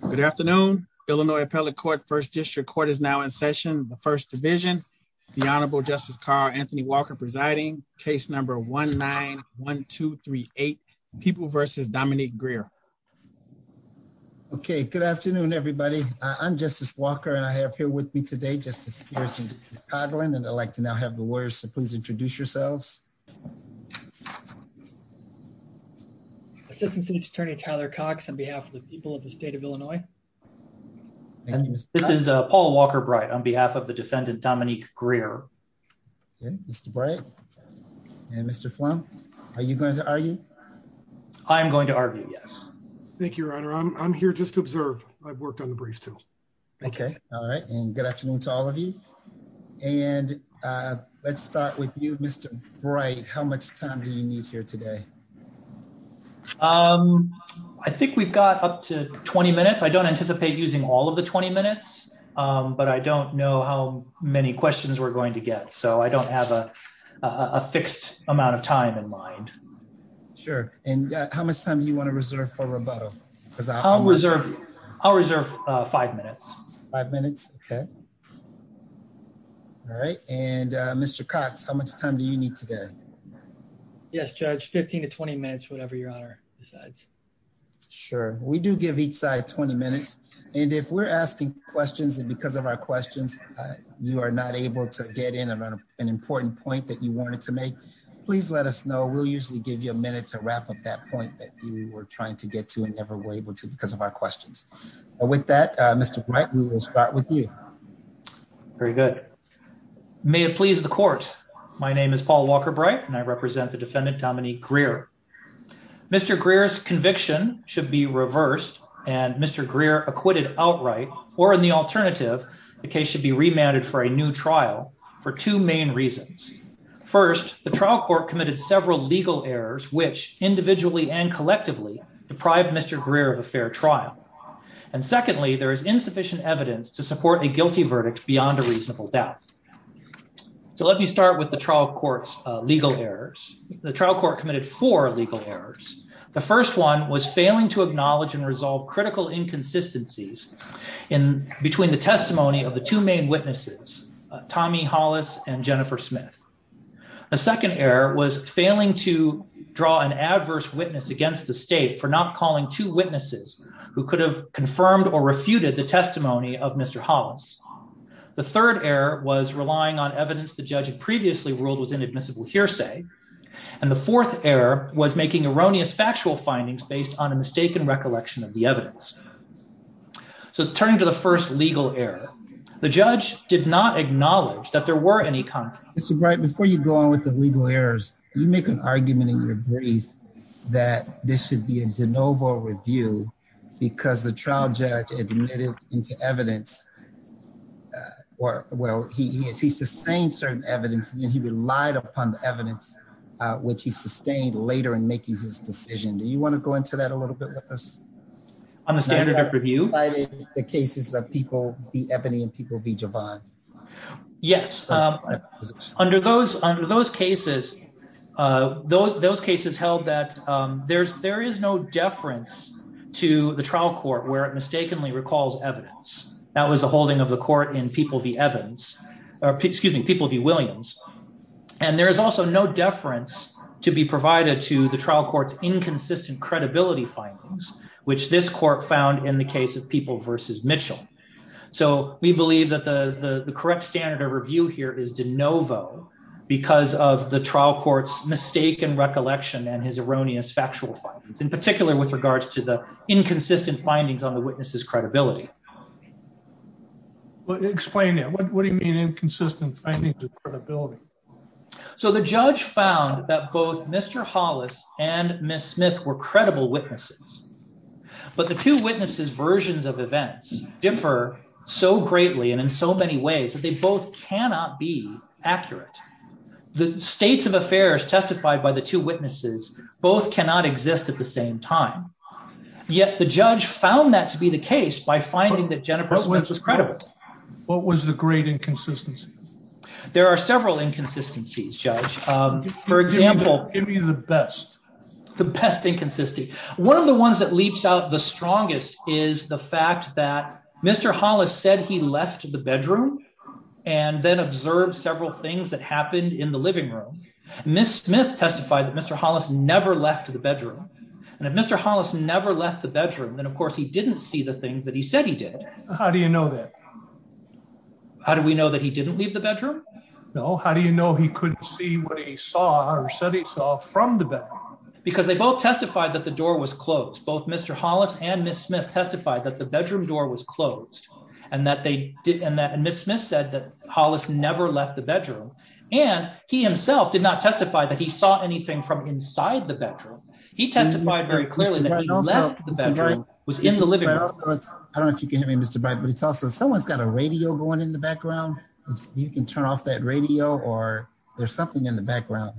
Good afternoon, Illinois Appellate Court, 1st District Court is now in session, the 1st Division, the Honorable Justice Carl Anthony Walker presiding, case number 1-9-1-2-3-8, People v. Dominique Greer. Okay, good afternoon, everybody. I'm Justice Walker and I have here with me today Justice Pierce and Justice Coughlin, and I'd like to now have the lawyers to please introduce yourselves. Assistant City Attorney Tyler Cox on behalf of the people of the state of Illinois. This is Paul Walker Bright on behalf of the defendant Dominique Greer. Mr. Bright. And Mr. Flem, are you going to argue. I'm going to argue yes. Thank you, Your Honor, I'm here just to observe. I've worked on the brief too. Okay. All right, and good afternoon to all of you. And let's start with you, Mr. Bright, how much time do you need here today. Um, I think we've got up to 20 minutes I don't anticipate using all of the 20 minutes, but I don't know how many questions we're going to get so I don't have a fixed amount of time in mind. Sure. And how much time you want to reserve for rebuttal, because I'll reserve. I'll reserve five minutes, five minutes. Okay. All right, and Mr Cox how much time do you need today. Yes, Judge 15 to 20 minutes whatever your honor decides. Sure, we do give each side 20 minutes. And if we're asking questions and because of our questions. You are not able to get in on an important point that you wanted to make. Please let us know we'll usually give you a minute to wrap up that point that you were trying to get to and never were able to because of our questions. With that, Mr. Bright, we will start with you. Very good. May it please the court. My name is Paul Walker bright and I represent the defendant Dominique career. Mr Greer is conviction should be reversed, and Mr Greer acquitted outright, or in the alternative, the case should be remanded for a new trial for two main reasons. First, the trial court committed several legal errors which individually and collectively deprived Mr career of a fair trial. And secondly, there is insufficient evidence to support a guilty verdict beyond a reasonable doubt. So let me start with the trial courts legal errors, the trial court committed for legal errors. The first one was failing to acknowledge and resolve critical inconsistencies in between the testimony of the two main witnesses, Tommy Hollis and Jennifer The third error was relying on evidence the judge had previously ruled was inadmissible hearsay. And the fourth error was making erroneous factual findings based on a mistaken recollection of the evidence. So turning to the first legal error. The judge did not acknowledge that there were any country. Right before you go on with the legal errors, you make an argument in your brief that this should be a de novo review, because the trial judge admitted into evidence. Or, well, he is he sustained certain evidence and he relied upon the evidence, which he sustained later and making this decision do you want to go into that a little bit. On the standard of review. The cases that people be Ebony and people be divine. Yes. Under those under those cases. Those cases held that there's there is no deference to the trial court where it mistakenly recalls evidence that was the holding of the court in people the evidence, or excuse me, people be Williams. And there is also no deference to be provided to the trial courts inconsistent credibility findings, which this court found in the case of people versus Mitchell. So we believe that the correct standard of review here is de novo, because of the trial courts mistaken recollection and his erroneous factual findings in particular with regards to the inconsistent findings on the witnesses credibility. Explain it, what do you mean inconsistent findings credibility. So the judge found that both Mr Hollis and Miss Smith were credible witnesses, but the two witnesses versions of events differ so greatly and in so many ways that they both cannot be accurate. The states of affairs testified by the two witnesses, both cannot exist at the same time. Yet the judge found that to be the case by finding that Jennifer was incredible. What was the great inconsistency. There are several inconsistencies judge. For example, give me the best, the best inconsistent. One of the ones that leaps out the strongest is the fact that Mr Hollis said he left the bedroom, and then observe several things that happened in the living room. Miss Smith testified that Mr Hollis never left the bedroom. And if Mr Hollis never left the bedroom then of course he didn't see the things that he said he did. How do you know that. How do we know that he didn't leave the bedroom. No, how do you know he couldn't see what he saw or said he saw from the bed, because they both testified that the door was closed both Mr Hollis and Miss Smith testified that the bedroom door was closed, and that they did and that And Miss Smith said that Hollis never left the bedroom, and he himself did not testify that he saw anything from inside the bedroom. He testified very clearly that the bedroom was in the living room. I don't know if you can hear me Mr but it's also someone's got a radio going in the background. You can turn off that radio or there's something in the background.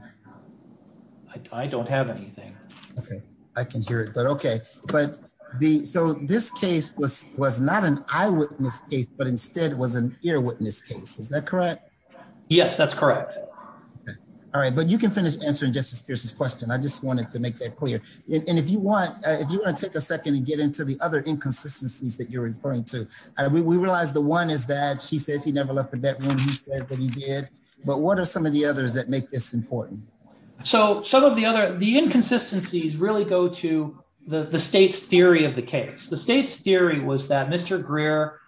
I don't have anything. Okay, I can hear it but okay, but the so this case was was not an eyewitness case but instead was an eyewitness case is that correct. Yes, that's correct. All right, but you can finish answering Justice Pierce's question I just wanted to make that clear. And if you want, if you want to take a second and get into the other inconsistencies that you're referring to. We realized the one is that she says he never left the bed when he says that he did. But what are some of the others that make this important. So, some of the other the inconsistencies really go to the state's theory of the case the state's theory was that Mr Greer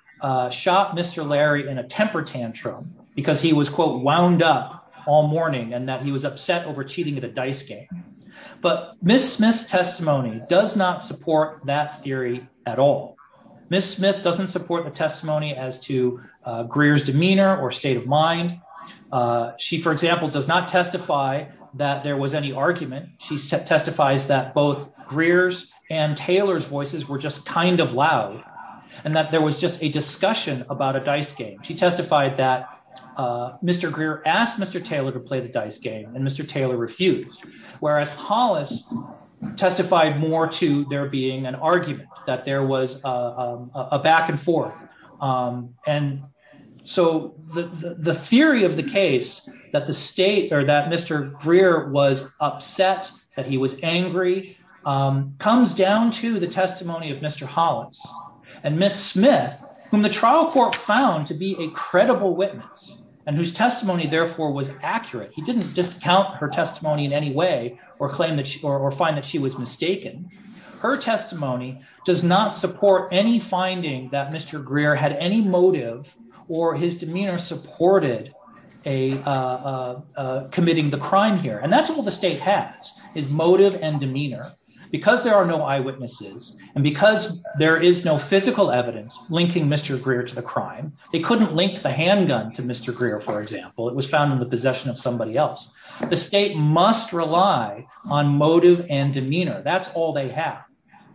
shot Mr Larry in a temper tantrum, because he was quote wound up all morning and that he was upset over cheating at a dice game. But, Miss Miss testimony does not support that theory at all. Miss Smith doesn't support the testimony as to careers demeanor or state of mind. She for example does not testify that there was any argument, she said testifies that both Greer's and Taylor's voices were just kind of loud, and that there was just a discussion about a dice game she testified that Mr Greer asked Mr Taylor to play the dice game and Mr Taylor refused. Whereas Hollis testified more to there being an argument that there was a back and forth. And so the theory of the case that the state or that Mr Greer was upset that he was angry comes down to the testimony of Mr Hollis and Miss Smith, whom the trial for found to be a credible witness, and whose testimony therefore was accurate he didn't discount her testimony in any way or claim that she or find that she was mistaken. Her testimony does not support any findings that Mr Greer had any motive, or his demeanor supported a committing the crime here and that's all the state has his motive and demeanor, because there are no eyewitnesses, and because there is no physical evidence, linking Mr Greer to the crime, they couldn't link the handgun to Mr Greer for example it was found in the possession of somebody else. The state must rely on motive and demeanor that's all they have.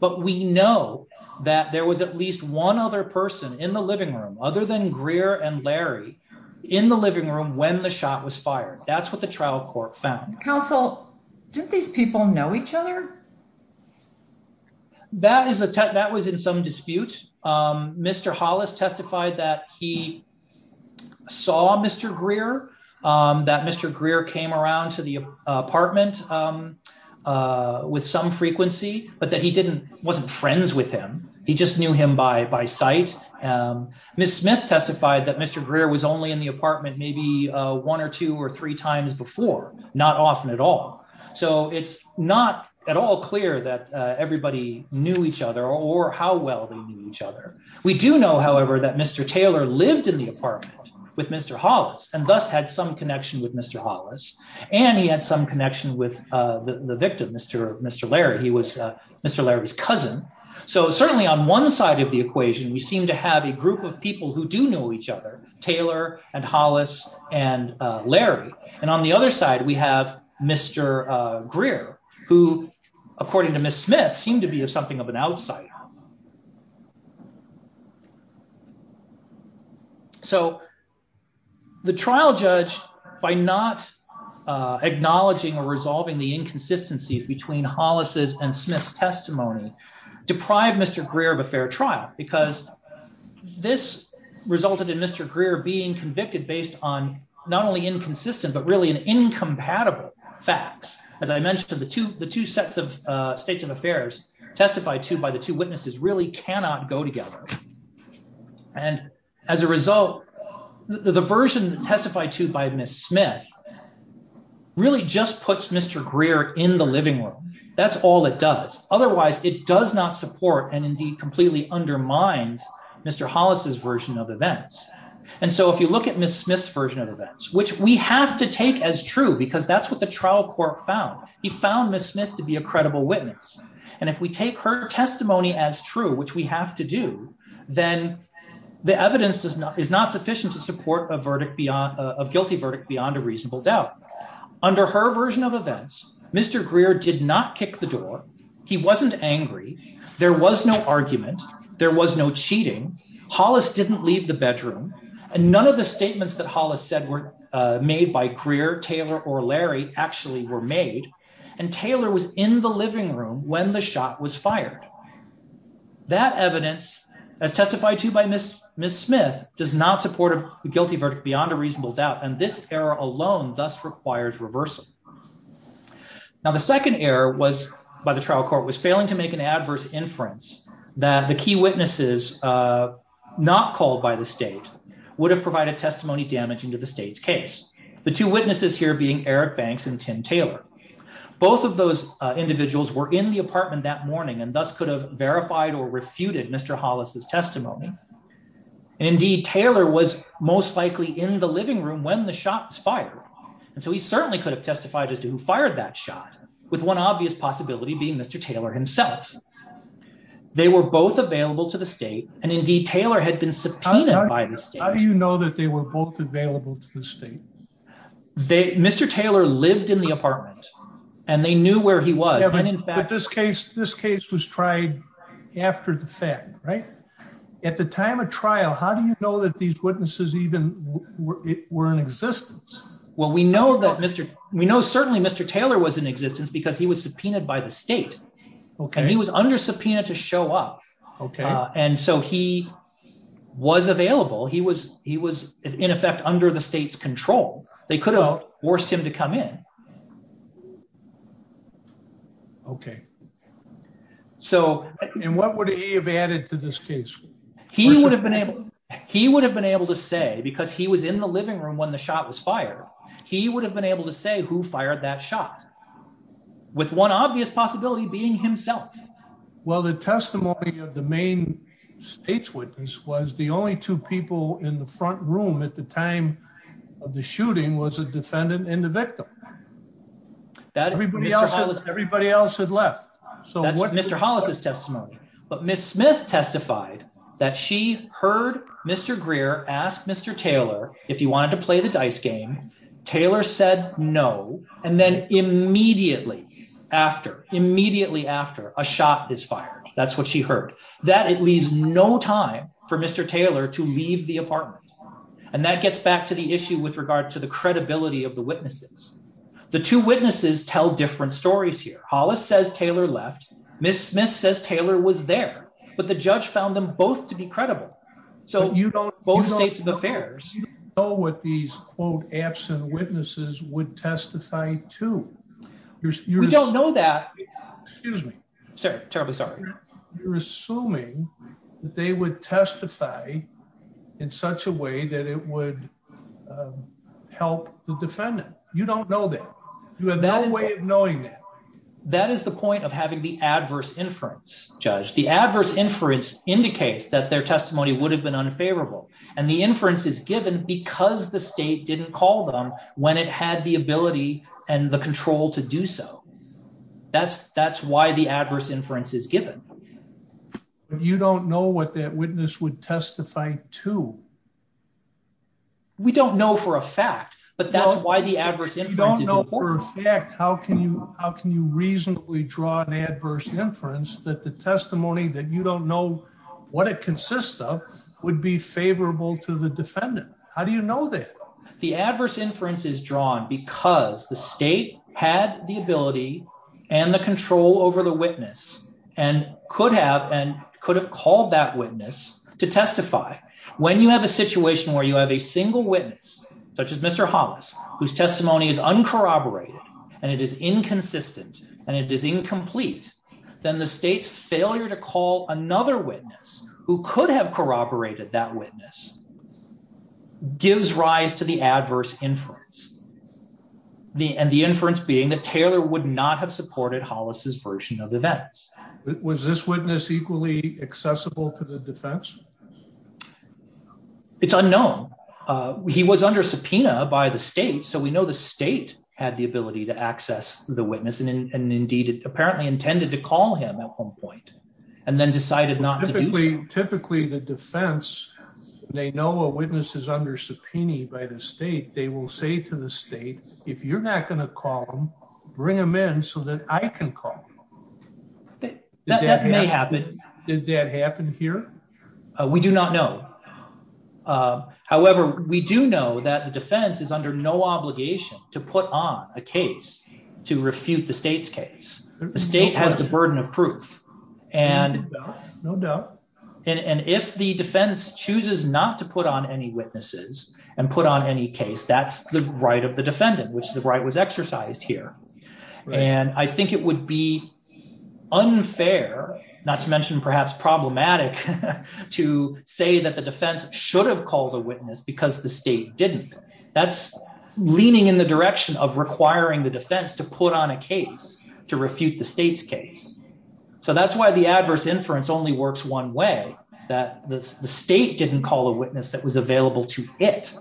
But we know that there was at least one other person in the living room, other than Greer and Larry in the living room when the shot was fired. That's what the trial court found counsel. Do these people know each other. That is a tech that was in some dispute. Mr Hollis testified that he saw Mr Greer that Mr Greer came around to the apartment, with some frequency, but that he didn't wasn't friends with him. He just knew him by by sight. Miss Smith testified that Mr Greer was only in the apartment maybe one or two or three times before, not often at all. So it's not at all clear that everybody knew each other or how well they knew each other. We do know however that Mr Taylor lived in the apartment with Mr Hollis, and thus had some connection with Mr Hollis, and he had some connection with the victim Mr. Mr Larry he was Mr Larry's cousin. So certainly on one side of the equation we seem to have a group of people who do know each other, Taylor, and Hollis, and Larry, and on the other side we have Mr. Greer, who, according to Miss Smith seem to be something of an outside. So, the trial judge, by not acknowledging or resolving the inconsistencies between Hollis's and Smith's testimony deprive Mr career of a fair trial, because this resulted in Mr career being convicted based on not only inconsistent but really an incompatible facts, as I mentioned the two, the two sets of states of affairs, testified to by the two witnesses really cannot go together. And as a result, the version testified to by Miss Smith really just puts Mr Greer in the living room. That's all it does. Otherwise, it does not support and indeed completely undermines Mr Hollis's version of events. And so if you look at Miss Smith's version of events which we have to take as true because that's what the trial court found he found Miss Smith to be a credible witness. And if we take her testimony as true which we have to do, then the evidence does not is not sufficient to support a verdict beyond a guilty verdict beyond a reasonable doubt. Under her version of events, Mr career did not kick the door. He wasn't angry. There was no argument. There was no cheating Hollis didn't leave the bedroom, and none of the statements that Hollis said were made by career Taylor or Larry actually were made and Taylor was in the living room when the shot was fired. That evidence as testified to by Miss Miss Smith does not support a guilty verdict beyond a reasonable doubt and this error alone thus requires reversal. Now the second error was by the trial court was failing to make an adverse inference that the key witnesses, not called by the state would have provided testimony damaging to the state's case. The two witnesses here being Eric banks and Tim Taylor. Both of those individuals were in the apartment that morning and thus could have verified or refuted Mr Hollis his testimony. Indeed, Taylor was most likely in the living room when the shots fired. And so he certainly could have testified as to who fired that shot with one obvious possibility being Mr Taylor himself. They were both available to the state, and indeed Taylor had been subpoenaed by the state. How do you know that they were both available to the state. They Mr Taylor lived in the apartment, and they knew where he was and in fact this case, this case was tried. After the fact, right. At the time of trial, how do you know that these witnesses even were in existence. Well we know that Mr. We know certainly Mr Taylor was in existence because he was subpoenaed by the state. Okay, he was under subpoena to show up. Okay. And so he was available he was he was in effect under the state's control, they could have forced him to come in. Okay. So, and what would he have added to this case, he would have been able, he would have been able to say because he was in the living room when the shot was fired, he would have been able to say who fired that shot. With one obvious possibility being himself. Well the testimony of the main stage witness was the only two people in the front room at the time of the shooting was a defendant and the victim. That everybody else everybody else had left. So what Mr Hollis testimony, but Miss Smith testified that she heard Mr Greer asked Mr Taylor, if you wanted to play the dice game. Taylor said no. And then immediately after immediately after a shot is fired, that's what she heard that it leaves no time for Mr Taylor to leave the apartment. And that gets back to the issue with regard to the credibility of the witnesses. The two witnesses tell different stories here, Hollis says Taylor left Miss Smith says Taylor was there, but the judge found them both to be credible. So, you don't go to the fairs. Oh what these quote absent witnesses would testify to your, you don't know that. Excuse me, sir, terribly sorry. You're assuming that they would testify in such a way that it would help the defendant, you don't know that you have no way of knowing that. That is the point of having the adverse inference judge the adverse inference indicates that their testimony would have been unfavorable, and the inference is given because the state didn't call them when it had the ability and the control to do so. That's, that's why the adverse inference is given. You don't know what that witness would testify to. We don't know for a fact, but that's why the adverse you don't know for a fact how can you, how can you reasonably draw an adverse inference that the testimony that you don't know what it consists of would be favorable to the defendant. How do you know that the adverse inference is drawn because the state had the ability and the control over the witness, and could have and could have called that witness to testify. When you have a situation where you have a single witness, such as Mr Hollis, whose testimony is uncorroborated, and it is inconsistent, and it is incomplete, then the state's failure to call another witness who could have corroborated that witness gives rise to the adverse inference. The and the inference being that Taylor would not have supported Hollis's version of events. Was this witness equally accessible to the defense. It's unknown. He was under subpoena by the state so we know the state had the ability to access the witness and indeed apparently intended to call him at one point, and then decided not to typically, typically the defense. They know a witness is under subpoena by the state, they will say to the state. If you're not going to call them, bring them in so that I can call. That may happen. Did that happen here. We do not know. However, we do know that the defense is under no obligation to put on a case to refute the state's case, the state has the burden of proof. And no doubt. And if the defense chooses not to put on any witnesses and put on any case that's the right of the defendant which the right was exercised here. And I think it would be unfair, not to mention perhaps problematic to say that the defense should have called a witness because the state didn't. That's leaning in the direction of requiring the defense to put on a case to refute the state's case. So that's why the adverse inference only works one way that the state didn't call a witness that was available to it.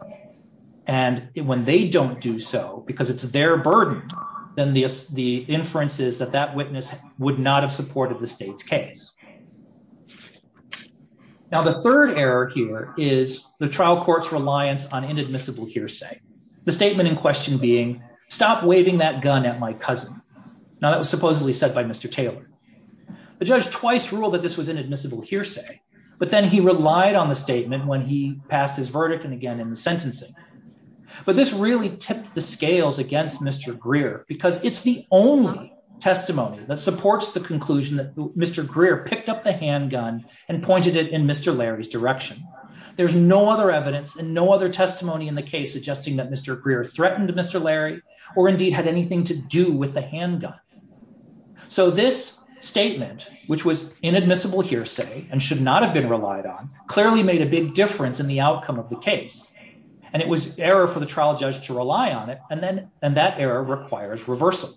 And when they don't do so because it's their burden than the, the inferences that that witness would not have supported the state's case. Now the third error here is the trial courts reliance on inadmissible hearsay, the statement in question being stopped waving that gun at my cousin. Now that was supposedly said by Mr. Taylor, the judge twice rule that this was inadmissible hearsay, but then he relied on the statement when he passed his verdict and again in the sentencing. But this really tipped the scales against Mr. Greer, because it's the only testimony that supports the conclusion that Mr. Greer picked up the handgun and pointed it in Mr. Larry's direction. There's no other evidence and no other testimony in the case suggesting that Mr. Greer threatened Mr. Larry, or indeed had anything to do with the handgun. So this statement, which was inadmissible hearsay, and should not have been relied on clearly made a big difference in the outcome of the case, and it was error for the trial judge to rely on it, and then, and that error requires reversal.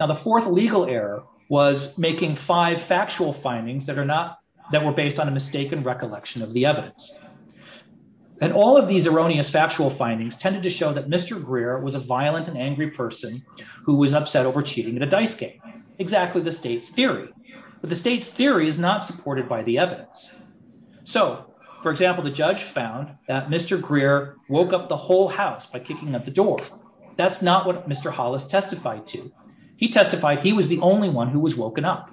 Now the fourth legal error was making five factual findings that are not that were based on a mistaken recollection of the evidence. And all of these erroneous factual findings tended to show that Mr. Greer was a violent and angry person who was upset over cheating in a dice game. Exactly the state's theory, but the state's theory is not supported by the evidence. So, for example, the judge found that Mr. Greer woke up the whole house by kicking at the door. That's not what Mr. Hollis testified to. He testified he was the only one who was woken up.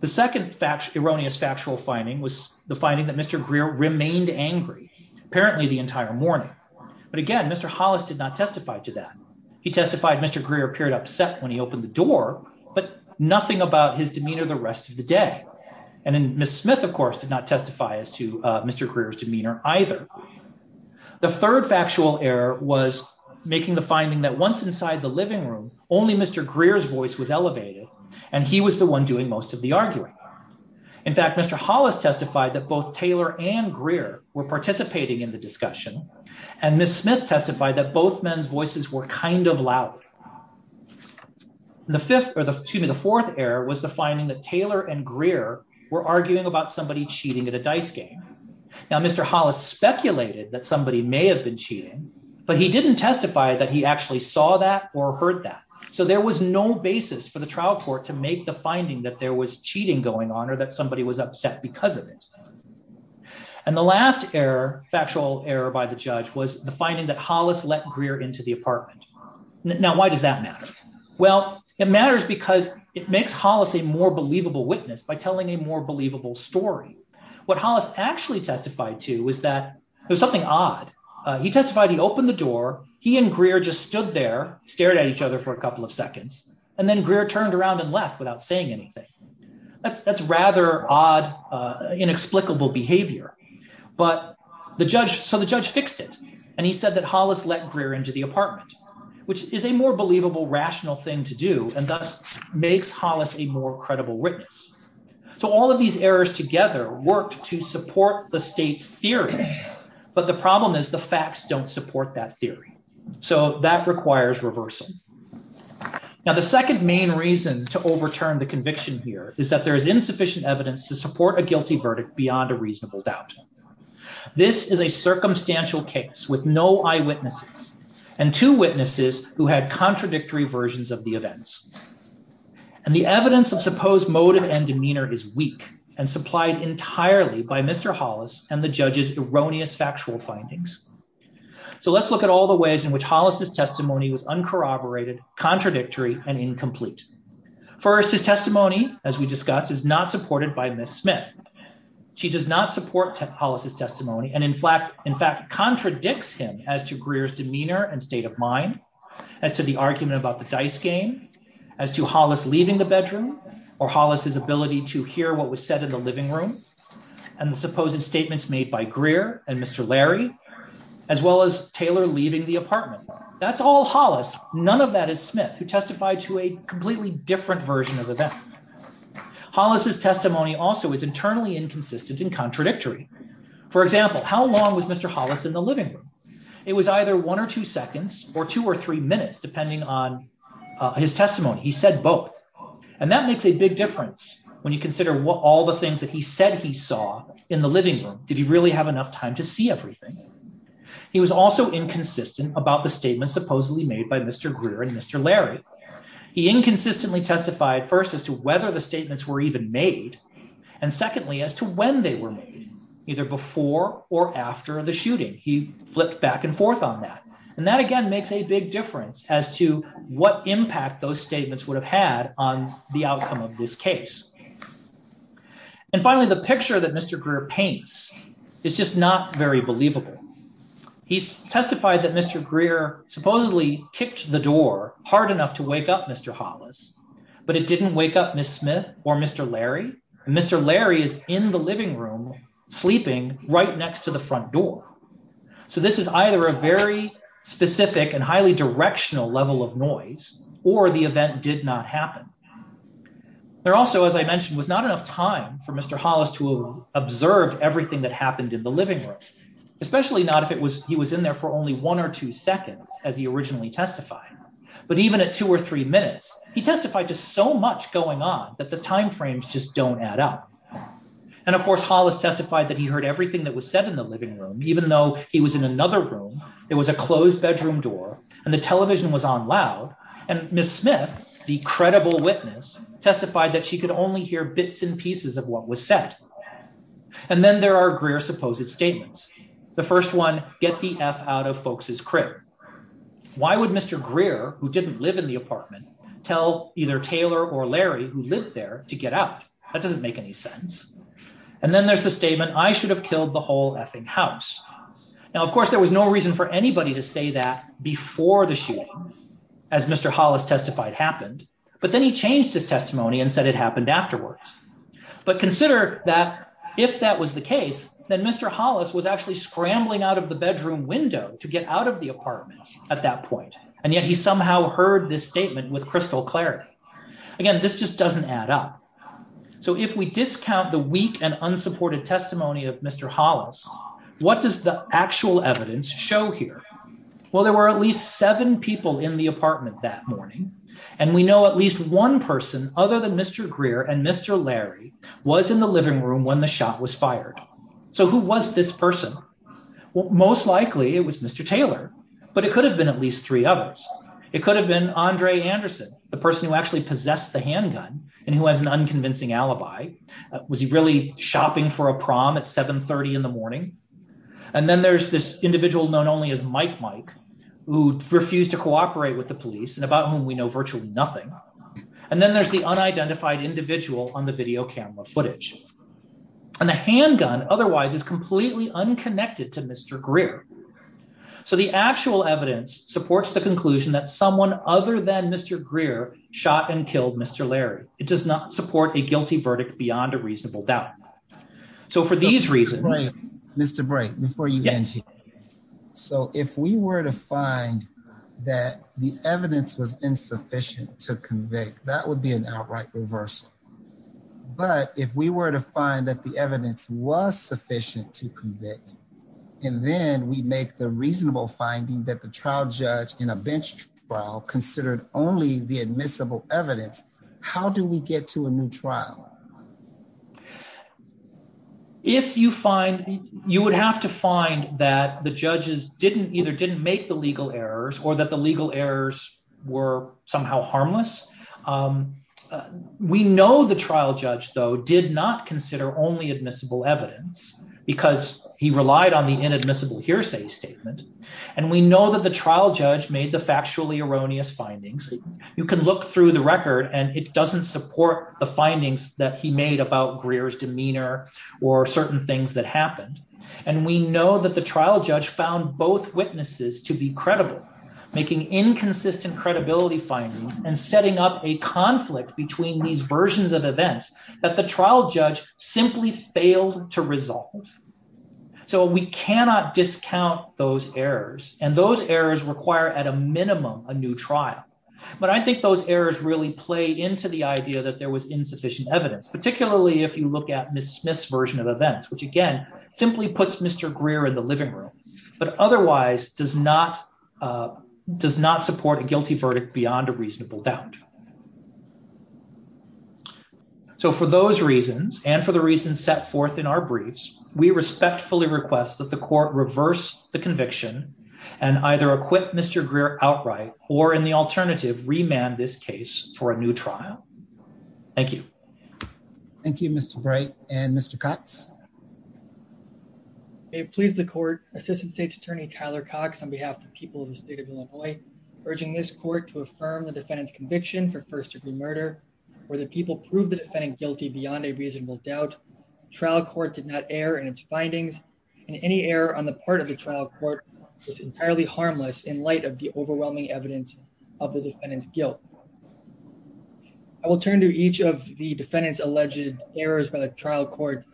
The second fact, erroneous factual finding was the finding that Mr. Greer remained angry, apparently the entire morning. But again, Mr. Hollis did not testify to that. He testified Mr. Greer appeared upset when he opened the door, but nothing about his demeanor the rest of the day. And then Miss Smith of course did not testify as to Mr. Greer's demeanor, either. The third factual error was making the finding that once inside the living room, only Mr. Greer's voice was elevated, and he was the one doing most of the arguing. In fact, Mr. Hollis testified that both Taylor and Greer were participating in the discussion, and Miss Smith testified that both men's voices were kind of loud. The fourth error was the finding that Taylor and Greer were arguing about somebody cheating at a dice game. Now Mr. Hollis speculated that somebody may have been cheating, but he didn't testify that he actually saw that or heard that. So there was no basis for the trial court to make the finding that there was cheating going on or that somebody was upset because of it. And the last error, factual error by the judge, was the finding that Hollis let Greer into the apartment. Now why does that matter? Well, it matters because it makes Hollis a more believable witness by telling a more believable story. What Hollis actually testified to was that there was something odd. He testified he opened the door, he and Greer just stood there, stared at each other for a couple of seconds, and then Greer turned around and left without saying anything. That's rather odd, inexplicable behavior. So the judge fixed it, and he said that Hollis let Greer into the apartment, which is a more believable, rational thing to do, and thus makes Hollis a more credible witness. So all of these errors together worked to support the state's theory, but the problem is the facts don't support that theory. So that requires reversal. Now the second main reason to overturn the conviction here is that there is insufficient evidence to support a guilty verdict beyond a reasonable doubt. This is a circumstantial case with no eyewitnesses and two witnesses who had contradictory versions of the events. And the evidence of supposed motive and demeanor is weak and supplied entirely by Mr. Hollis and the judge's erroneous factual findings. So let's look at all the ways in which Hollis' testimony was uncorroborated, contradictory, and incomplete. First, his testimony, as we discussed, is not supported by Ms. Smith. She does not support Hollis' testimony and in fact contradicts him as to Greer's demeanor and state of mind, as to the argument about the dice game, as to Hollis leaving the bedroom, or Hollis' ability to hear what was said in the living room, and the supposed statements made by Greer and Mr. Larry, as well as Taylor leaving the apartment. That's all Hollis. None of that is Smith, who testified to a completely different version of the event. Hollis' testimony also is internally inconsistent and contradictory. For example, how long was Mr. Hollis in the living room? It was either one or two seconds or two or three minutes, depending on his testimony. He said both. And that makes a big difference when you consider all the things that he said he saw in the living room. Did he really have enough time to see everything? He was also inconsistent about the statements supposedly made by Mr. Greer and Mr. Larry. He inconsistently testified, first, as to whether the statements were even made, and secondly, as to when they were made, either before or after the shooting. He flipped back and forth on that, and that again makes a big difference as to what impact those statements would have had on the outcome of this case. And finally, the picture that Mr. Greer paints is just not very believable. He testified that Mr. Greer supposedly kicked the door hard enough to wake up Mr. Hollis, but it didn't wake up Miss Smith or Mr. Larry. Mr. Larry is in the living room, sleeping right next to the front door. So this is either a very specific and highly directional level of noise, or the event did not happen. There also, as I mentioned, was not enough time for Mr. Hollis to observe everything that happened in the living room, especially not if he was in there for only one or two seconds, as he originally testified. But even at two or three minutes, he testified to so much going on that the time frames just don't add up. And of course, Hollis testified that he heard everything that was said in the living room, even though he was in another room, there was a closed bedroom door, and the television was on loud, and Miss Smith, the credible witness, testified that she could only hear bits and pieces of what was said. And then there are Greer's supposed statements. The first one, get the F out of folks' crib. Why would Mr. Greer, who didn't live in the apartment, tell either Taylor or Larry, who lived there, to get out? That doesn't make any sense. And then there's the statement, I should have killed the whole effing house. Now, of course, there was no reason for anybody to say that before the shooting, as Mr. Hollis testified happened, but then he changed his testimony and said it happened afterwards. But consider that if that was the case, then Mr. Hollis was actually scrambling out of the bedroom window to get out of the apartment at that point, and yet he somehow heard this statement with crystal clarity. Again, this just doesn't add up. So if we discount the weak and unsupported testimony of Mr. Hollis, what does the actual evidence show here? Well, there were at least seven people in the apartment that morning, and we know at least one person, other than Mr. Greer and Mr. Larry, was in the living room when the shot was fired. So who was this person? Well, most likely it was Mr. Taylor, but it could have been at least three others. It could have been Andre Anderson, the person who actually possessed the handgun and who has an unconvincing alibi. Was he really shopping for a prom at 7.30 in the morning? And then there's this individual known only as Mike Mike, who refused to cooperate with the police and about whom we know virtually nothing. And then there's the unidentified individual on the video camera footage. And the handgun otherwise is completely unconnected to Mr. Greer. So the actual evidence supports the conclusion that someone other than Mr. Greer shot and killed Mr. Larry. It does not support a guilty verdict beyond a reasonable doubt. So for these reasons, Mr. So if we were to find that the evidence was insufficient to convict, that would be an outright reversal. But if we were to find that the evidence was sufficient to convict, and then we make the reasonable finding that the trial judge in a bench trial considered only the admissible evidence. How do we get to a new trial? If you find you would have to find that the judges didn't either didn't make the legal errors or that the legal errors were somehow harmless. We know the trial judge, though, did not consider only admissible evidence because he relied on the inadmissible hearsay statement. And we know that the trial judge made the factually erroneous findings. You can look through the record and it doesn't support the findings that he made about Greer's demeanor or certain things that happened. And we know that the trial judge found both witnesses to be credible, making inconsistent credibility findings and setting up a conflict between these versions of events that the trial judge simply failed to resolve. So we cannot discount those errors and those errors require at a minimum, a new trial. But I think those errors really play into the idea that there was insufficient evidence, particularly if you look at Ms. Smith's version of events, which again, simply puts Mr. Greer in the living room, but otherwise does not does not support a guilty verdict beyond a reasonable doubt. So for those reasons and for the reasons set forth in our briefs, we respectfully request that the court reverse the conviction and either acquit Mr. Greer outright or in the alternative, remand this case for a new trial. Thank you. Thank you, Mr. Bright and Mr. Cox. May it please the court, Assistant State's Attorney Tyler Cox on behalf of the people of the state of Illinois, urging this court to affirm the defendant's conviction for first degree murder, where the people proved the defendant guilty beyond a reasonable doubt. Trial court did not err in its findings and any error on the part of the trial court was entirely harmless in light of the overwhelming evidence of the defendant's guilt. I will turn to each of the defendant's alleged errors by the trial court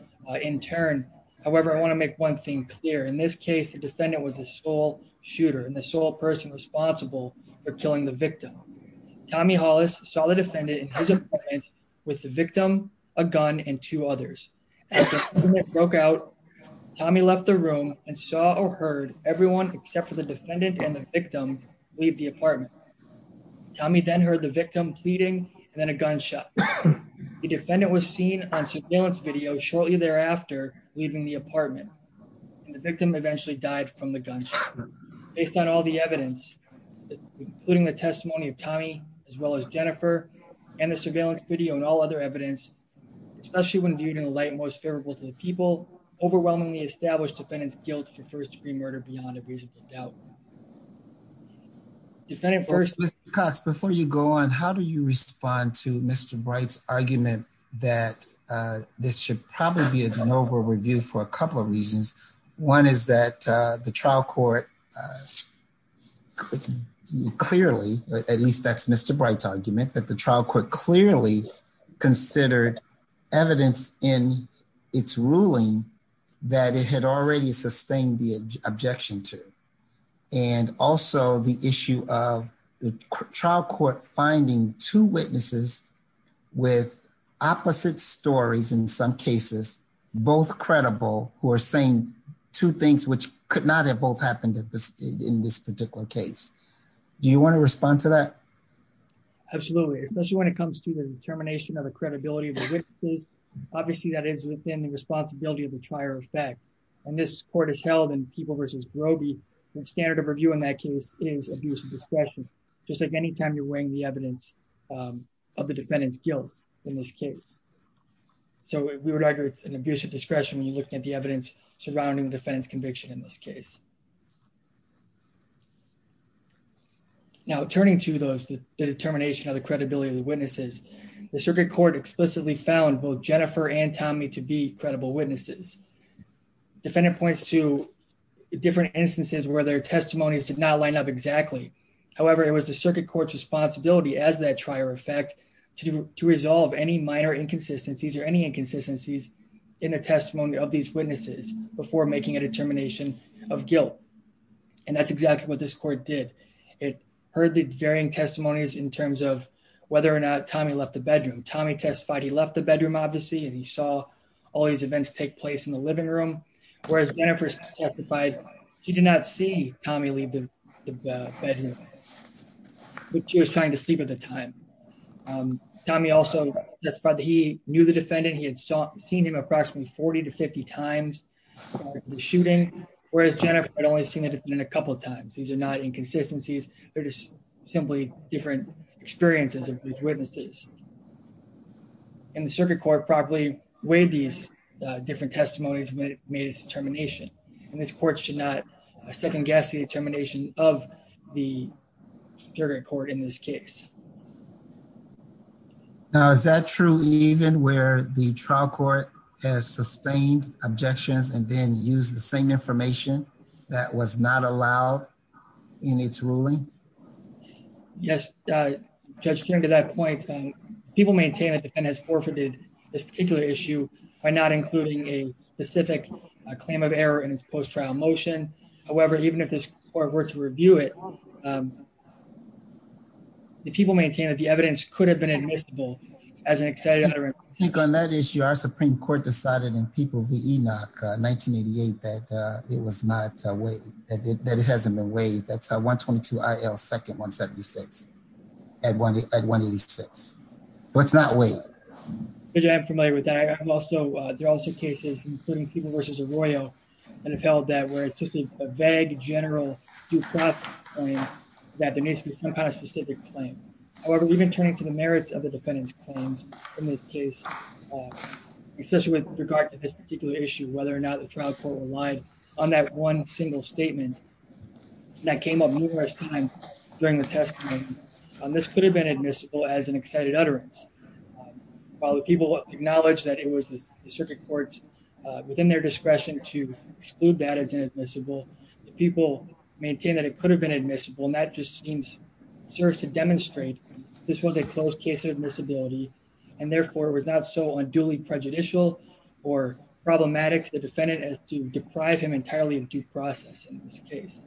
in turn. However, I want to make one thing clear. In this case, the defendant was the sole shooter and the sole person responsible for killing the victim. Tommy Hollis saw the defendant in his apartment with the victim, a gun, and two others. As the apartment broke out, Tommy left the room and saw or heard everyone except for the defendant and the victim leave the apartment. Tommy then heard the victim pleading and then a gunshot. The defendant was seen on surveillance video shortly thereafter, leaving the apartment. The victim eventually died from the gunshot. Based on all the evidence, including the testimony of Tommy, as well as Jennifer, and the surveillance video and all other evidence, especially when viewed in the light most favorable to the people, overwhelmingly established defendant's guilt for first degree murder beyond a reasonable doubt. Mr. Cox, before you go on, how do you respond to Mr. Bright's argument that this should probably be a de novo review for a couple of reasons? One is that the trial court clearly, at least that's Mr. Bright's argument, that the trial court clearly considered evidence in its ruling that it had already sustained the objection to. And also the issue of the trial court finding two witnesses with opposite stories in some cases, both credible, who are saying two things which could not have both happened in this particular case. Do you want to respond to that? Absolutely, especially when it comes to the determination of the credibility of the witnesses. Obviously, that is within the responsibility of the trial effect. And this court has held in People v. Grobe, the standard of review in that case is abuse of discretion, just like any time you're weighing the evidence of the defendant's guilt in this case. So we would argue it's an abuse of discretion when you're looking at the evidence surrounding the defendant's conviction in this case. Now, turning to the determination of the credibility of the witnesses, the circuit court explicitly found both Jennifer and Tommy to be credible witnesses. Defendant points to different instances where their testimonies did not line up exactly. However, it was the circuit court's responsibility as that trial effect to resolve any minor inconsistencies or any inconsistencies in the testimony of these witnesses before making a determination of guilt. And that's exactly what this court did. It heard the varying testimonies in terms of whether or not Tommy left the bedroom. Tommy testified he left the bedroom, obviously, and he saw all these events take place in the living room, whereas Jennifer testified she did not see Tommy leave the bedroom, but she was trying to sleep at the time. Tommy also testified that he knew the defendant. He had seen him approximately 40 to 50 times during the shooting, whereas Jennifer had only seen the defendant a couple of times. These are not inconsistencies. They're just simply different experiences of these witnesses. And the circuit court properly weighed these different testimonies and made its determination. And this court should not second-guess the determination of the circuit court in this case. Now, is that true even where the trial court has sustained objections and then used the same information that was not allowed in its ruling? Yes, Judge, to that point, people maintain that the defendant has forfeited this particular issue by not including a specific claim of error in his post-trial motion. However, even if this court were to review it, the people maintain that the evidence could have been admissible as an excited utterance. I think on that issue, our Supreme Court decided in People v. Enoch 1988 that it was not weighed, that it hasn't been weighed. That's 122 IL 2nd 176 at 186. But it's not weighed. Judge, I'm familiar with that. There are also cases, including People v. Arroyo, that have held that where it's just a vague, general, due process claim that there needs to be some kind of specific claim. However, even turning to the merits of the defendant's claims in this case, especially with regard to this particular issue, whether or not the trial court relied on that one single statement that came up numerous times during the testimony, this could have been admissible as an excited utterance. While the people acknowledge that it was the circuit courts within their discretion to exclude that as inadmissible, the people maintain that it could have been admissible. And that just seems serves to demonstrate this was a closed case of admissibility, and therefore it was not so unduly prejudicial or problematic to the defendant as to deprive him entirely of due process in this case.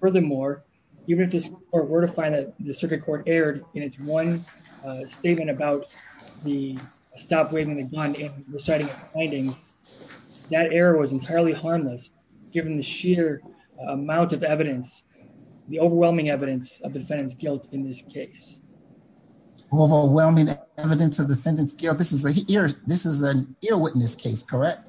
Furthermore, even if this court were to find that the circuit court erred in its one statement about the stop waving the gun in deciding a finding, that error was entirely harmless, given the sheer amount of evidence, the overwhelming evidence of defendant's guilt in this case. Overwhelming evidence of defendant's guilt. This is an ear witness case, correct?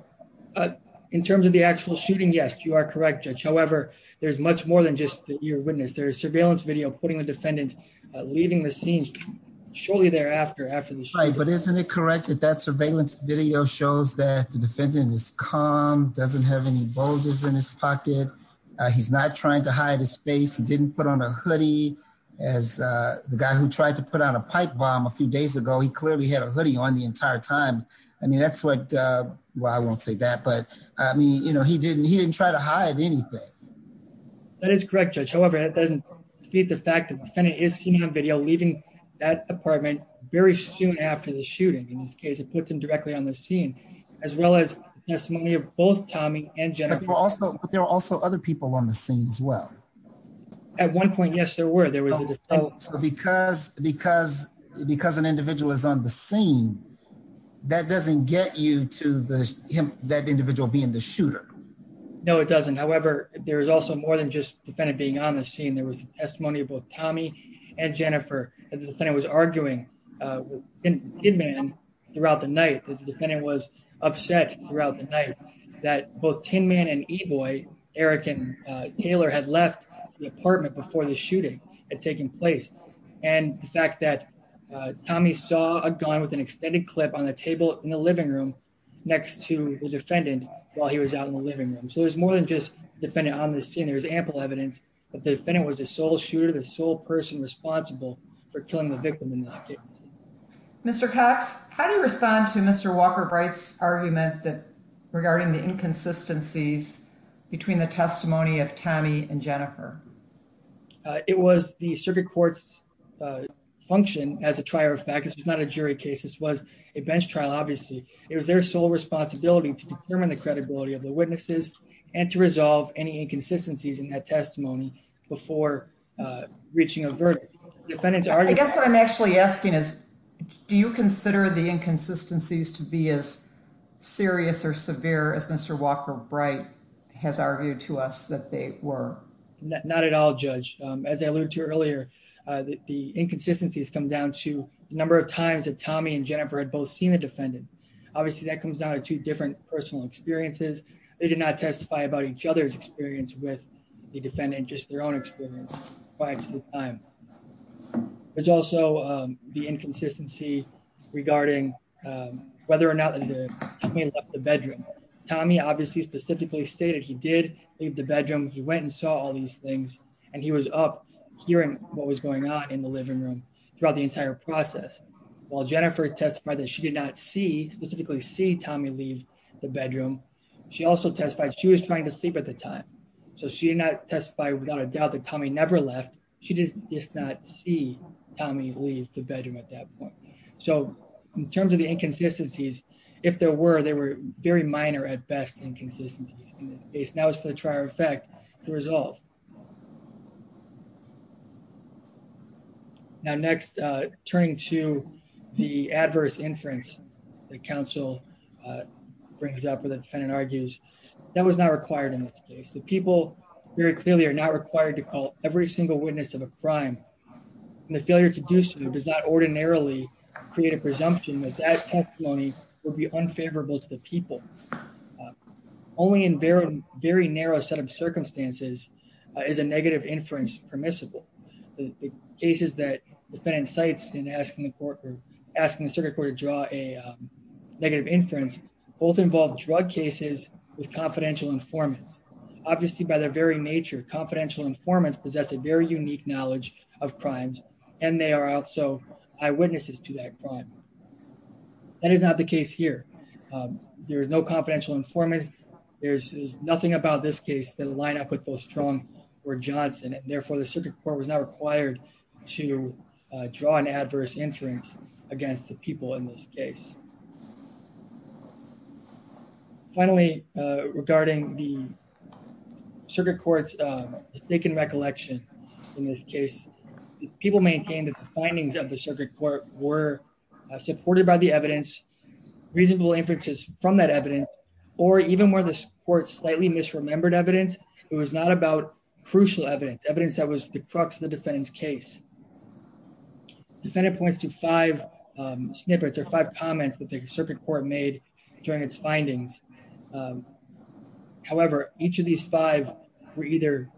In terms of the actual shooting, yes, you are correct, Judge. However, there's much more than just the ear witness. There's surveillance video putting the defendant leaving the scene shortly thereafter after the shooting. Right, but isn't it correct that that surveillance video shows that the defendant is calm, doesn't have any bulges in his pocket, he's not trying to hide his face, he didn't put on a hoodie. As the guy who tried to put on a pipe bomb a few days ago, he clearly had a hoodie on the entire time. I mean, that's what, well, I won't say that, but I mean, you know, he didn't, he didn't try to hide anything. That is correct, Judge. However, that doesn't defeat the fact that the defendant is seen on video leaving that apartment very soon after the shooting. In this case, it puts him directly on the scene, as well as testimony of both Tommy and Jennifer. But there were also other people on the scene as well. At one point, yes, there were. So because an individual is on the scene, that doesn't get you to that individual being the shooter. No, it doesn't. However, there is also more than just the defendant being on the scene. There was testimony of both Tommy and Jennifer. The defendant was arguing with Tin Man throughout the night. The defendant was upset throughout the night that both Tin Man and E-Boy, Eric and Taylor, had left the apartment before the shooting had taken place. And the fact that Tommy saw a gun with an extended clip on the table in the living room next to the defendant while he was out in the living room. So there's more than just the defendant on the scene. There's ample evidence that the defendant was the sole shooter, the sole person responsible for killing the victim in this case. Mr. Cox, how do you respond to Mr. Walker-Bright's argument regarding the inconsistencies between the testimony of Tommy and Jennifer? It was the circuit court's function as a trial of fact. This was not a jury case. This was a bench trial, obviously. It was their sole responsibility to determine the credibility of the witnesses and to resolve any inconsistencies in that testimony before reaching a verdict. I guess what I'm actually asking is, do you consider the inconsistencies to be as serious or severe as Mr. Walker-Bright has argued to us that they were? Not at all, Judge. As I alluded to earlier, the inconsistencies come down to the number of times that Tommy and Jennifer had both seen the defendant. Obviously, that comes down to two different personal experiences. They did not testify about each other's experience with the defendant, just their own experience prior to the time. There's also the inconsistency regarding whether or not the defendant left the bedroom. Tommy obviously specifically stated he did leave the bedroom, he went and saw all these things, and he was up hearing what was going on in the living room throughout the entire process. While Jennifer testified that she did not specifically see Tommy leave the bedroom, she also testified she was trying to sleep at the time. She did not testify without a doubt that Tommy never left. She did not see Tommy leave the bedroom at that point. In terms of the inconsistencies, if there were, they were very minor, at best, inconsistencies in this case. That was for the trial of fact to resolve. Now next, turning to the adverse inference that counsel brings up, or the defendant argues, that was not required in this case. The people very clearly are not required to call every single witness of a crime, and the failure to do so does not ordinarily create a presumption that that testimony would be unfavorable to the people. Only in very narrow set of circumstances is a negative inference permissible. The cases that defendant cites in asking the circuit court to draw a negative inference both involve drug cases with confidential informants. Obviously by their very nature, confidential informants possess a very unique knowledge of crimes, and they are also eyewitnesses to that crime. That is not the case here. There is no confidential informant. There's nothing about this case that line up with both Strong or Johnson, and therefore the circuit court was not required to draw an adverse inference against the people in this case. Finally, regarding the circuit court's mistaken recollection in this case, people maintained that the findings of the circuit court were supported by the evidence, reasonable inferences from that evidence, or even where the court slightly misremembered evidence, it was not about crucial evidence, evidence that was the crux of the defendant's case. Defendant points to five snippets or five comments that the circuit court made during its findings. However, each of these five were either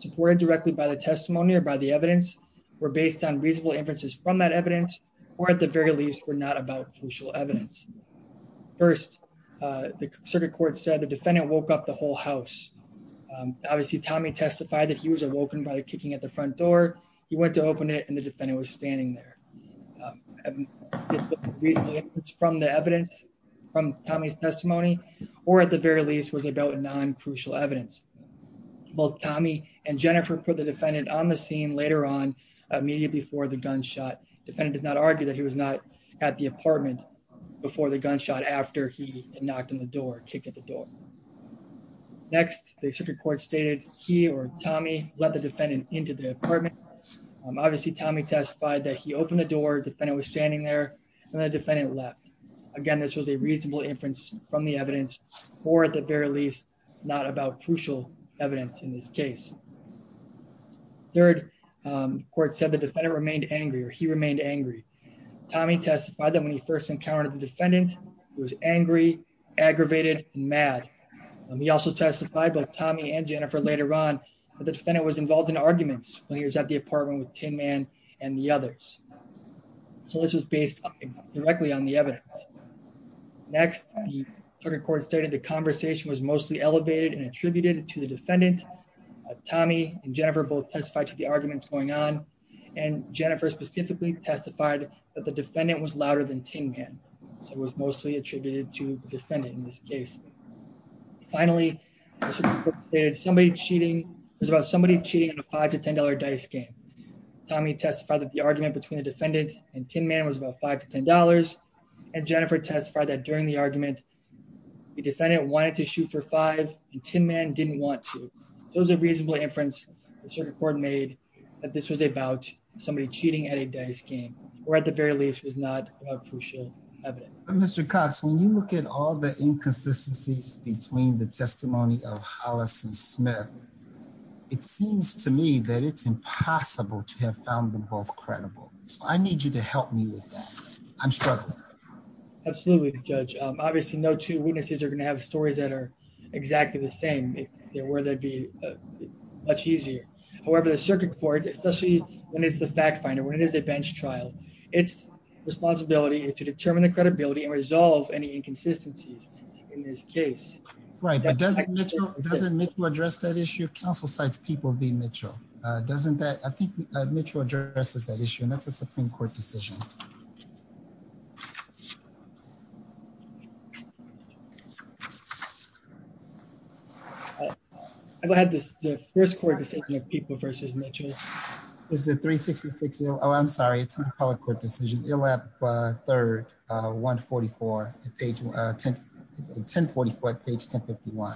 supported directly by the testimony or by the evidence, were based on reasonable inferences from that evidence, or at the very least were not about crucial evidence. First, the circuit court said the defendant woke up the whole house. Obviously, Tommy testified that he was awoken by the kicking at the front door. He went to open it and the defendant was standing there. It's from the evidence from Tommy's testimony, or at the very least was about non-crucial evidence. Both Tommy and Jennifer put the defendant on the scene later on, immediately before the gunshot. Defendant does not argue that he was not at the apartment before the gunshot after he knocked on the door, kicked at the door. Next, the circuit court stated he or Tommy let the defendant into the apartment. Obviously, Tommy testified that he opened the door, defendant was standing there, and the defendant left. Again, this was a reasonable inference from the evidence, or at the very least, not about crucial evidence in this case. Third, the court said the defendant remained angry, or he remained angry. Tommy testified that when he first encountered the defendant, he was angry, aggravated, and mad. He also testified that Tommy and Jennifer later on, that the defendant was involved in arguments when he was at the apartment with Tin Man and the others. So this was based directly on the evidence. Next, the circuit court stated the conversation was mostly elevated and attributed to the defendant. Tommy and Jennifer both testified to the arguments going on, and Jennifer specifically testified that the defendant was louder than Tin Man, so it was mostly attributed to the defendant in this case. Finally, the circuit court stated it was about somebody cheating in a $5 to $10 dice game. Tommy testified that the argument between the defendant and Tin Man was about $5 to $10, and Jennifer testified that during the argument, the defendant wanted to shoot for five, and Tin Man didn't want to. So it was a reasonable inference the circuit court made that this was about somebody cheating at a dice game, or at the very least, was not about crucial evidence. But Mr. Cox, when you look at all the inconsistencies between the testimony of Hollis and Smith, it seems to me that it's impossible to have found them both credible. So I need you to help me with that. I'm struggling. Absolutely, Judge. Obviously, no two witnesses are going to have stories that are exactly the same. If they were, that'd be much easier. However, the circuit court, especially when it's the fact finder, when it is a bench trial, its responsibility is to determine the credibility and resolve any inconsistencies in this case. Right, but doesn't Mitchell address that issue? Counsel cites people being Mitchell. I think Mitchell addresses that issue, and that's a Supreme Court decision. I've had this first court decision of People v. Mitchell. This is a 366—oh, I'm sorry, it's a public court decision—Ilep 3rd, 144, page 10—1044, page 1051.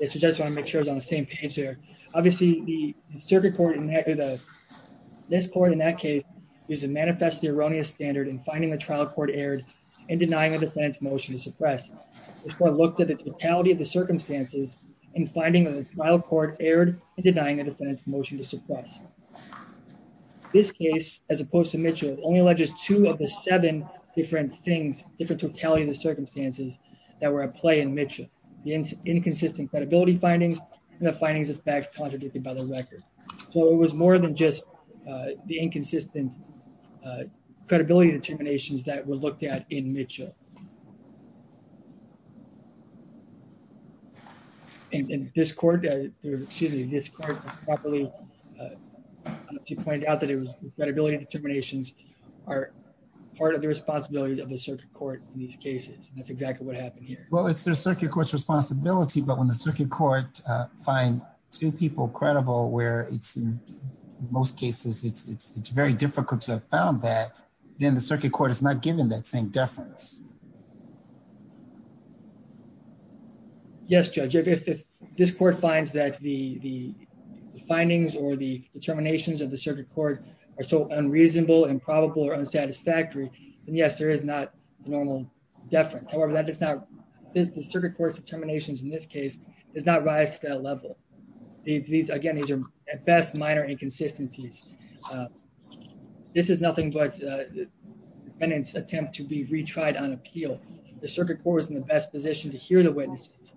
I just want to make sure it's on the same page there. Obviously, the circuit court in this court, in that case, is a manifestly erroneous standard in finding a trial court erred and denying a defendant's motion to suppress. This court looked at the totality of the circumstances in finding a trial court erred and denying a defendant's motion to suppress. This case, as opposed to Mitchell, only alleges two of the seven different things, different totality of the circumstances, that were at play in Mitchell—the inconsistent credibility findings and the findings, in fact, contradicted by the record. So it was more than just the inconsistent credibility determinations that were looked at in Mitchell. And this court, excuse me, this court properly pointed out that the credibility determinations are part of the responsibility of the circuit court in these cases, and that's exactly what happened here. Well, it's the circuit court's responsibility, but when the circuit court finds two people credible, where in most cases it's very difficult to have found that, then the circuit court is not given that same deference. Yes, Judge, if this court finds that the findings or the determinations of the circuit court are so unreasonable, improbable, or unsatisfactory, then yes, there is not normal deference. However, the circuit court's determinations in this case does not rise to that level. Again, these are at best minor inconsistencies. This is nothing but the defendant's attempt to be retried on appeal. The circuit court was in the best position to hear the witnesses,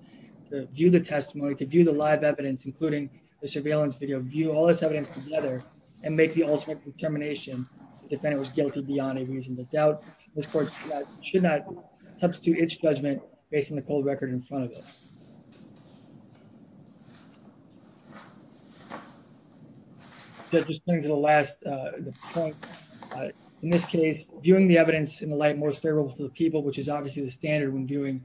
to view the testimony, to view the live evidence, including the surveillance video, view all this evidence together, and make the ultimate determination that the defendant was guilty beyond any reason. This court should not substitute its judgment based on the cold record in front of it. Judge, just getting to the last point, in this case, viewing the evidence in the light most favorable to the people, which is obviously the standard when viewing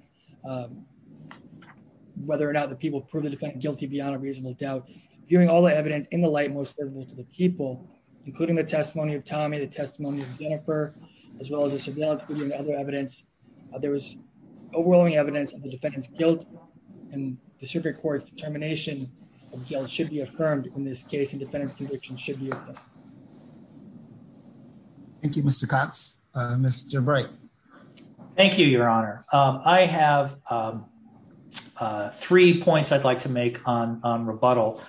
whether or not the people prove the defendant guilty beyond a reasonable doubt, viewing all the evidence in the light most favorable to the people, including the testimony of Tommy, the testimony of Jennifer, as well as the surveillance video and other evidence, there was overwhelming evidence of the defendant's guilt, and the circuit court's determination of guilt should be affirmed in this case, and defendant's conviction should be affirmed. Thank you, Mr. Cox. Mr. Bright. Thank you, Your Honor. I have three points I'd like to make on rebuttal.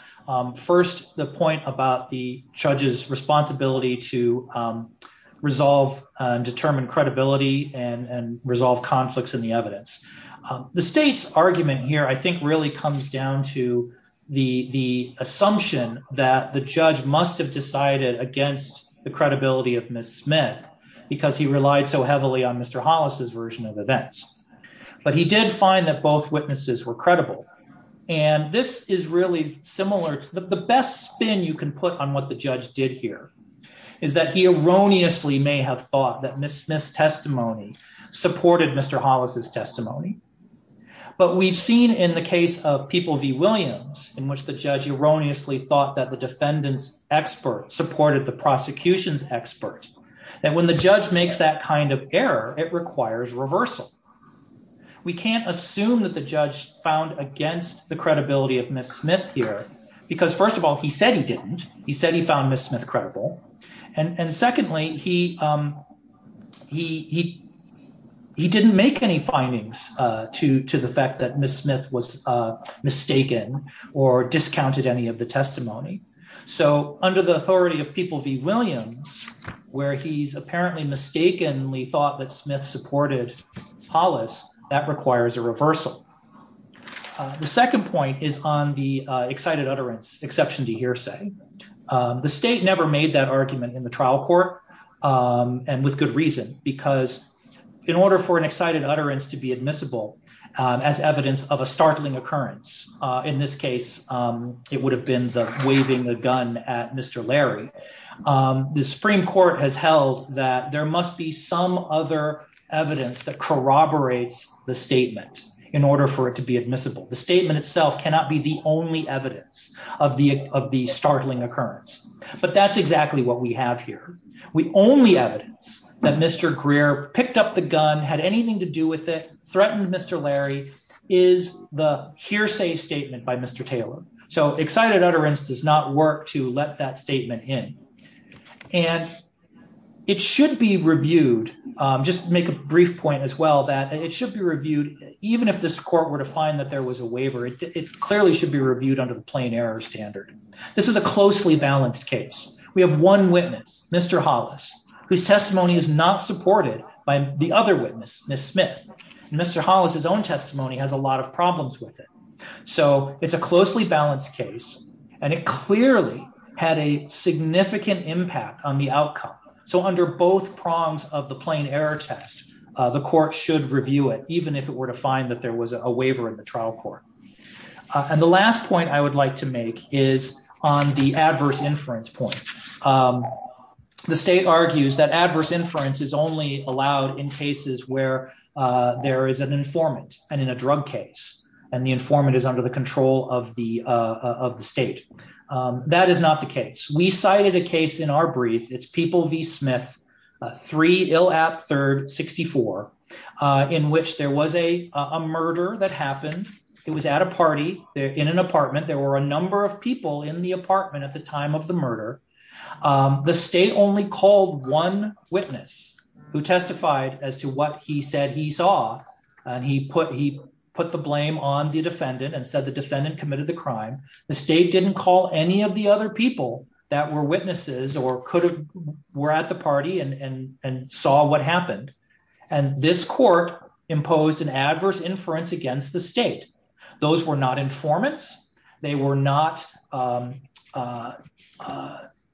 First, the point about the judge's responsibility to resolve and determine credibility and resolve conflicts in the evidence. The state's argument here, I think, really comes down to the assumption that the judge must have decided against the credibility of Ms. Smith, because he relied so heavily on Mr. Hollis's version of events. But he did find that both witnesses were credible. And this is really similar to the best spin you can put on what the judge did here, is that he erroneously may have thought that Ms. Smith's testimony supported Mr. Hollis's testimony. But we've seen in the case of People v. Williams, in which the judge erroneously thought that the defendant's expert supported the prosecution's expert, that when the judge makes that kind of error, it requires reversal. We can't assume that the judge found against the credibility of Ms. Smith here, because first of all, he said he didn't. He said he found Ms. Smith credible. And secondly, he didn't make any findings to the fact that Ms. Smith was mistaken or discounted any of the testimony. So under the authority of People v. Williams, where he's apparently mistakenly thought that Smith supported Hollis, that requires a reversal. The second point is on the excited utterance, exception to hearsay. The state never made that argument in the trial court, and with good reason. Because in order for an excited utterance to be admissible as evidence of a startling occurrence, in this case, it would have been the waving the gun at Mr. Larry, the Supreme Court has held that there must be some other evidence that corroborates the statement in order for it to be admissible. The statement itself cannot be the only evidence of the startling occurrence. But that's exactly what we have here. The only evidence that Mr. Greer picked up the gun, had anything to do with it, threatened Mr. Larry, is the hearsay statement by Mr. Taylor. So excited utterance does not work to let that statement in. And it should be reviewed. Just make a brief point as well that it should be reviewed, even if this court were to find that there was a waiver, it clearly should be reviewed under the plain error standard. This is a closely balanced case. We have one witness, Mr. Hollis, whose testimony is not supported by the other witness, Ms. Smith. Mr. Hollis, his own testimony has a lot of problems with it. So it's a closely balanced case, and it clearly had a significant impact on the outcome. So under both prongs of the plain error test, the court should review it, even if it were to find that there was a waiver in the trial court. And the last point I would like to make is on the adverse inference point. The state argues that adverse inference is only allowed in cases where there is an informant and in a drug case, and the informant is under the control of the state. That is not the case. We cited a case in our brief. It's People v. Smith, 3 Illap Third 64, in which there was a murder that happened. It was at a party in an apartment. There were a number of people in the apartment at the time of the murder. The state only called one witness who testified as to what he said he saw, and he put the blame on the defendant and said the defendant committed the crime. The state didn't call any of the other people that were witnesses or were at the party and saw what happened. And this court imposed an adverse inference against the state. Those were not informants. They were not under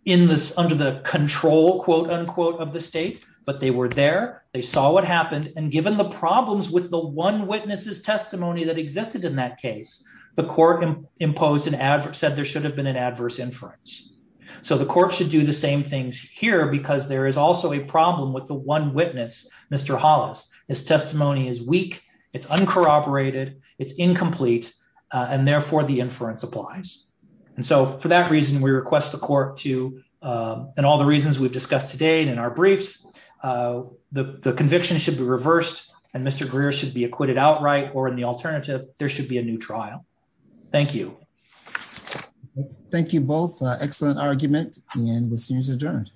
the control, quote unquote, of the state, but they were there, they saw what happened, and given the problems with the one witness's testimony that existed in that case, the court said there should have been an adverse inference. So the court should do the same things here because there is also a problem with the one witness, Mr. Hollis. His testimony is weak, it's uncorroborated, it's incomplete, and therefore the inference applies. And so for that reason, we request the court to, in all the reasons we've discussed today and in our briefs, the conviction should be reversed and Mr. Greer should be acquitted outright, or in the alternative, there should be a new trial. Thank you. Thank you both. Excellent argument, and the hearing is adjourned.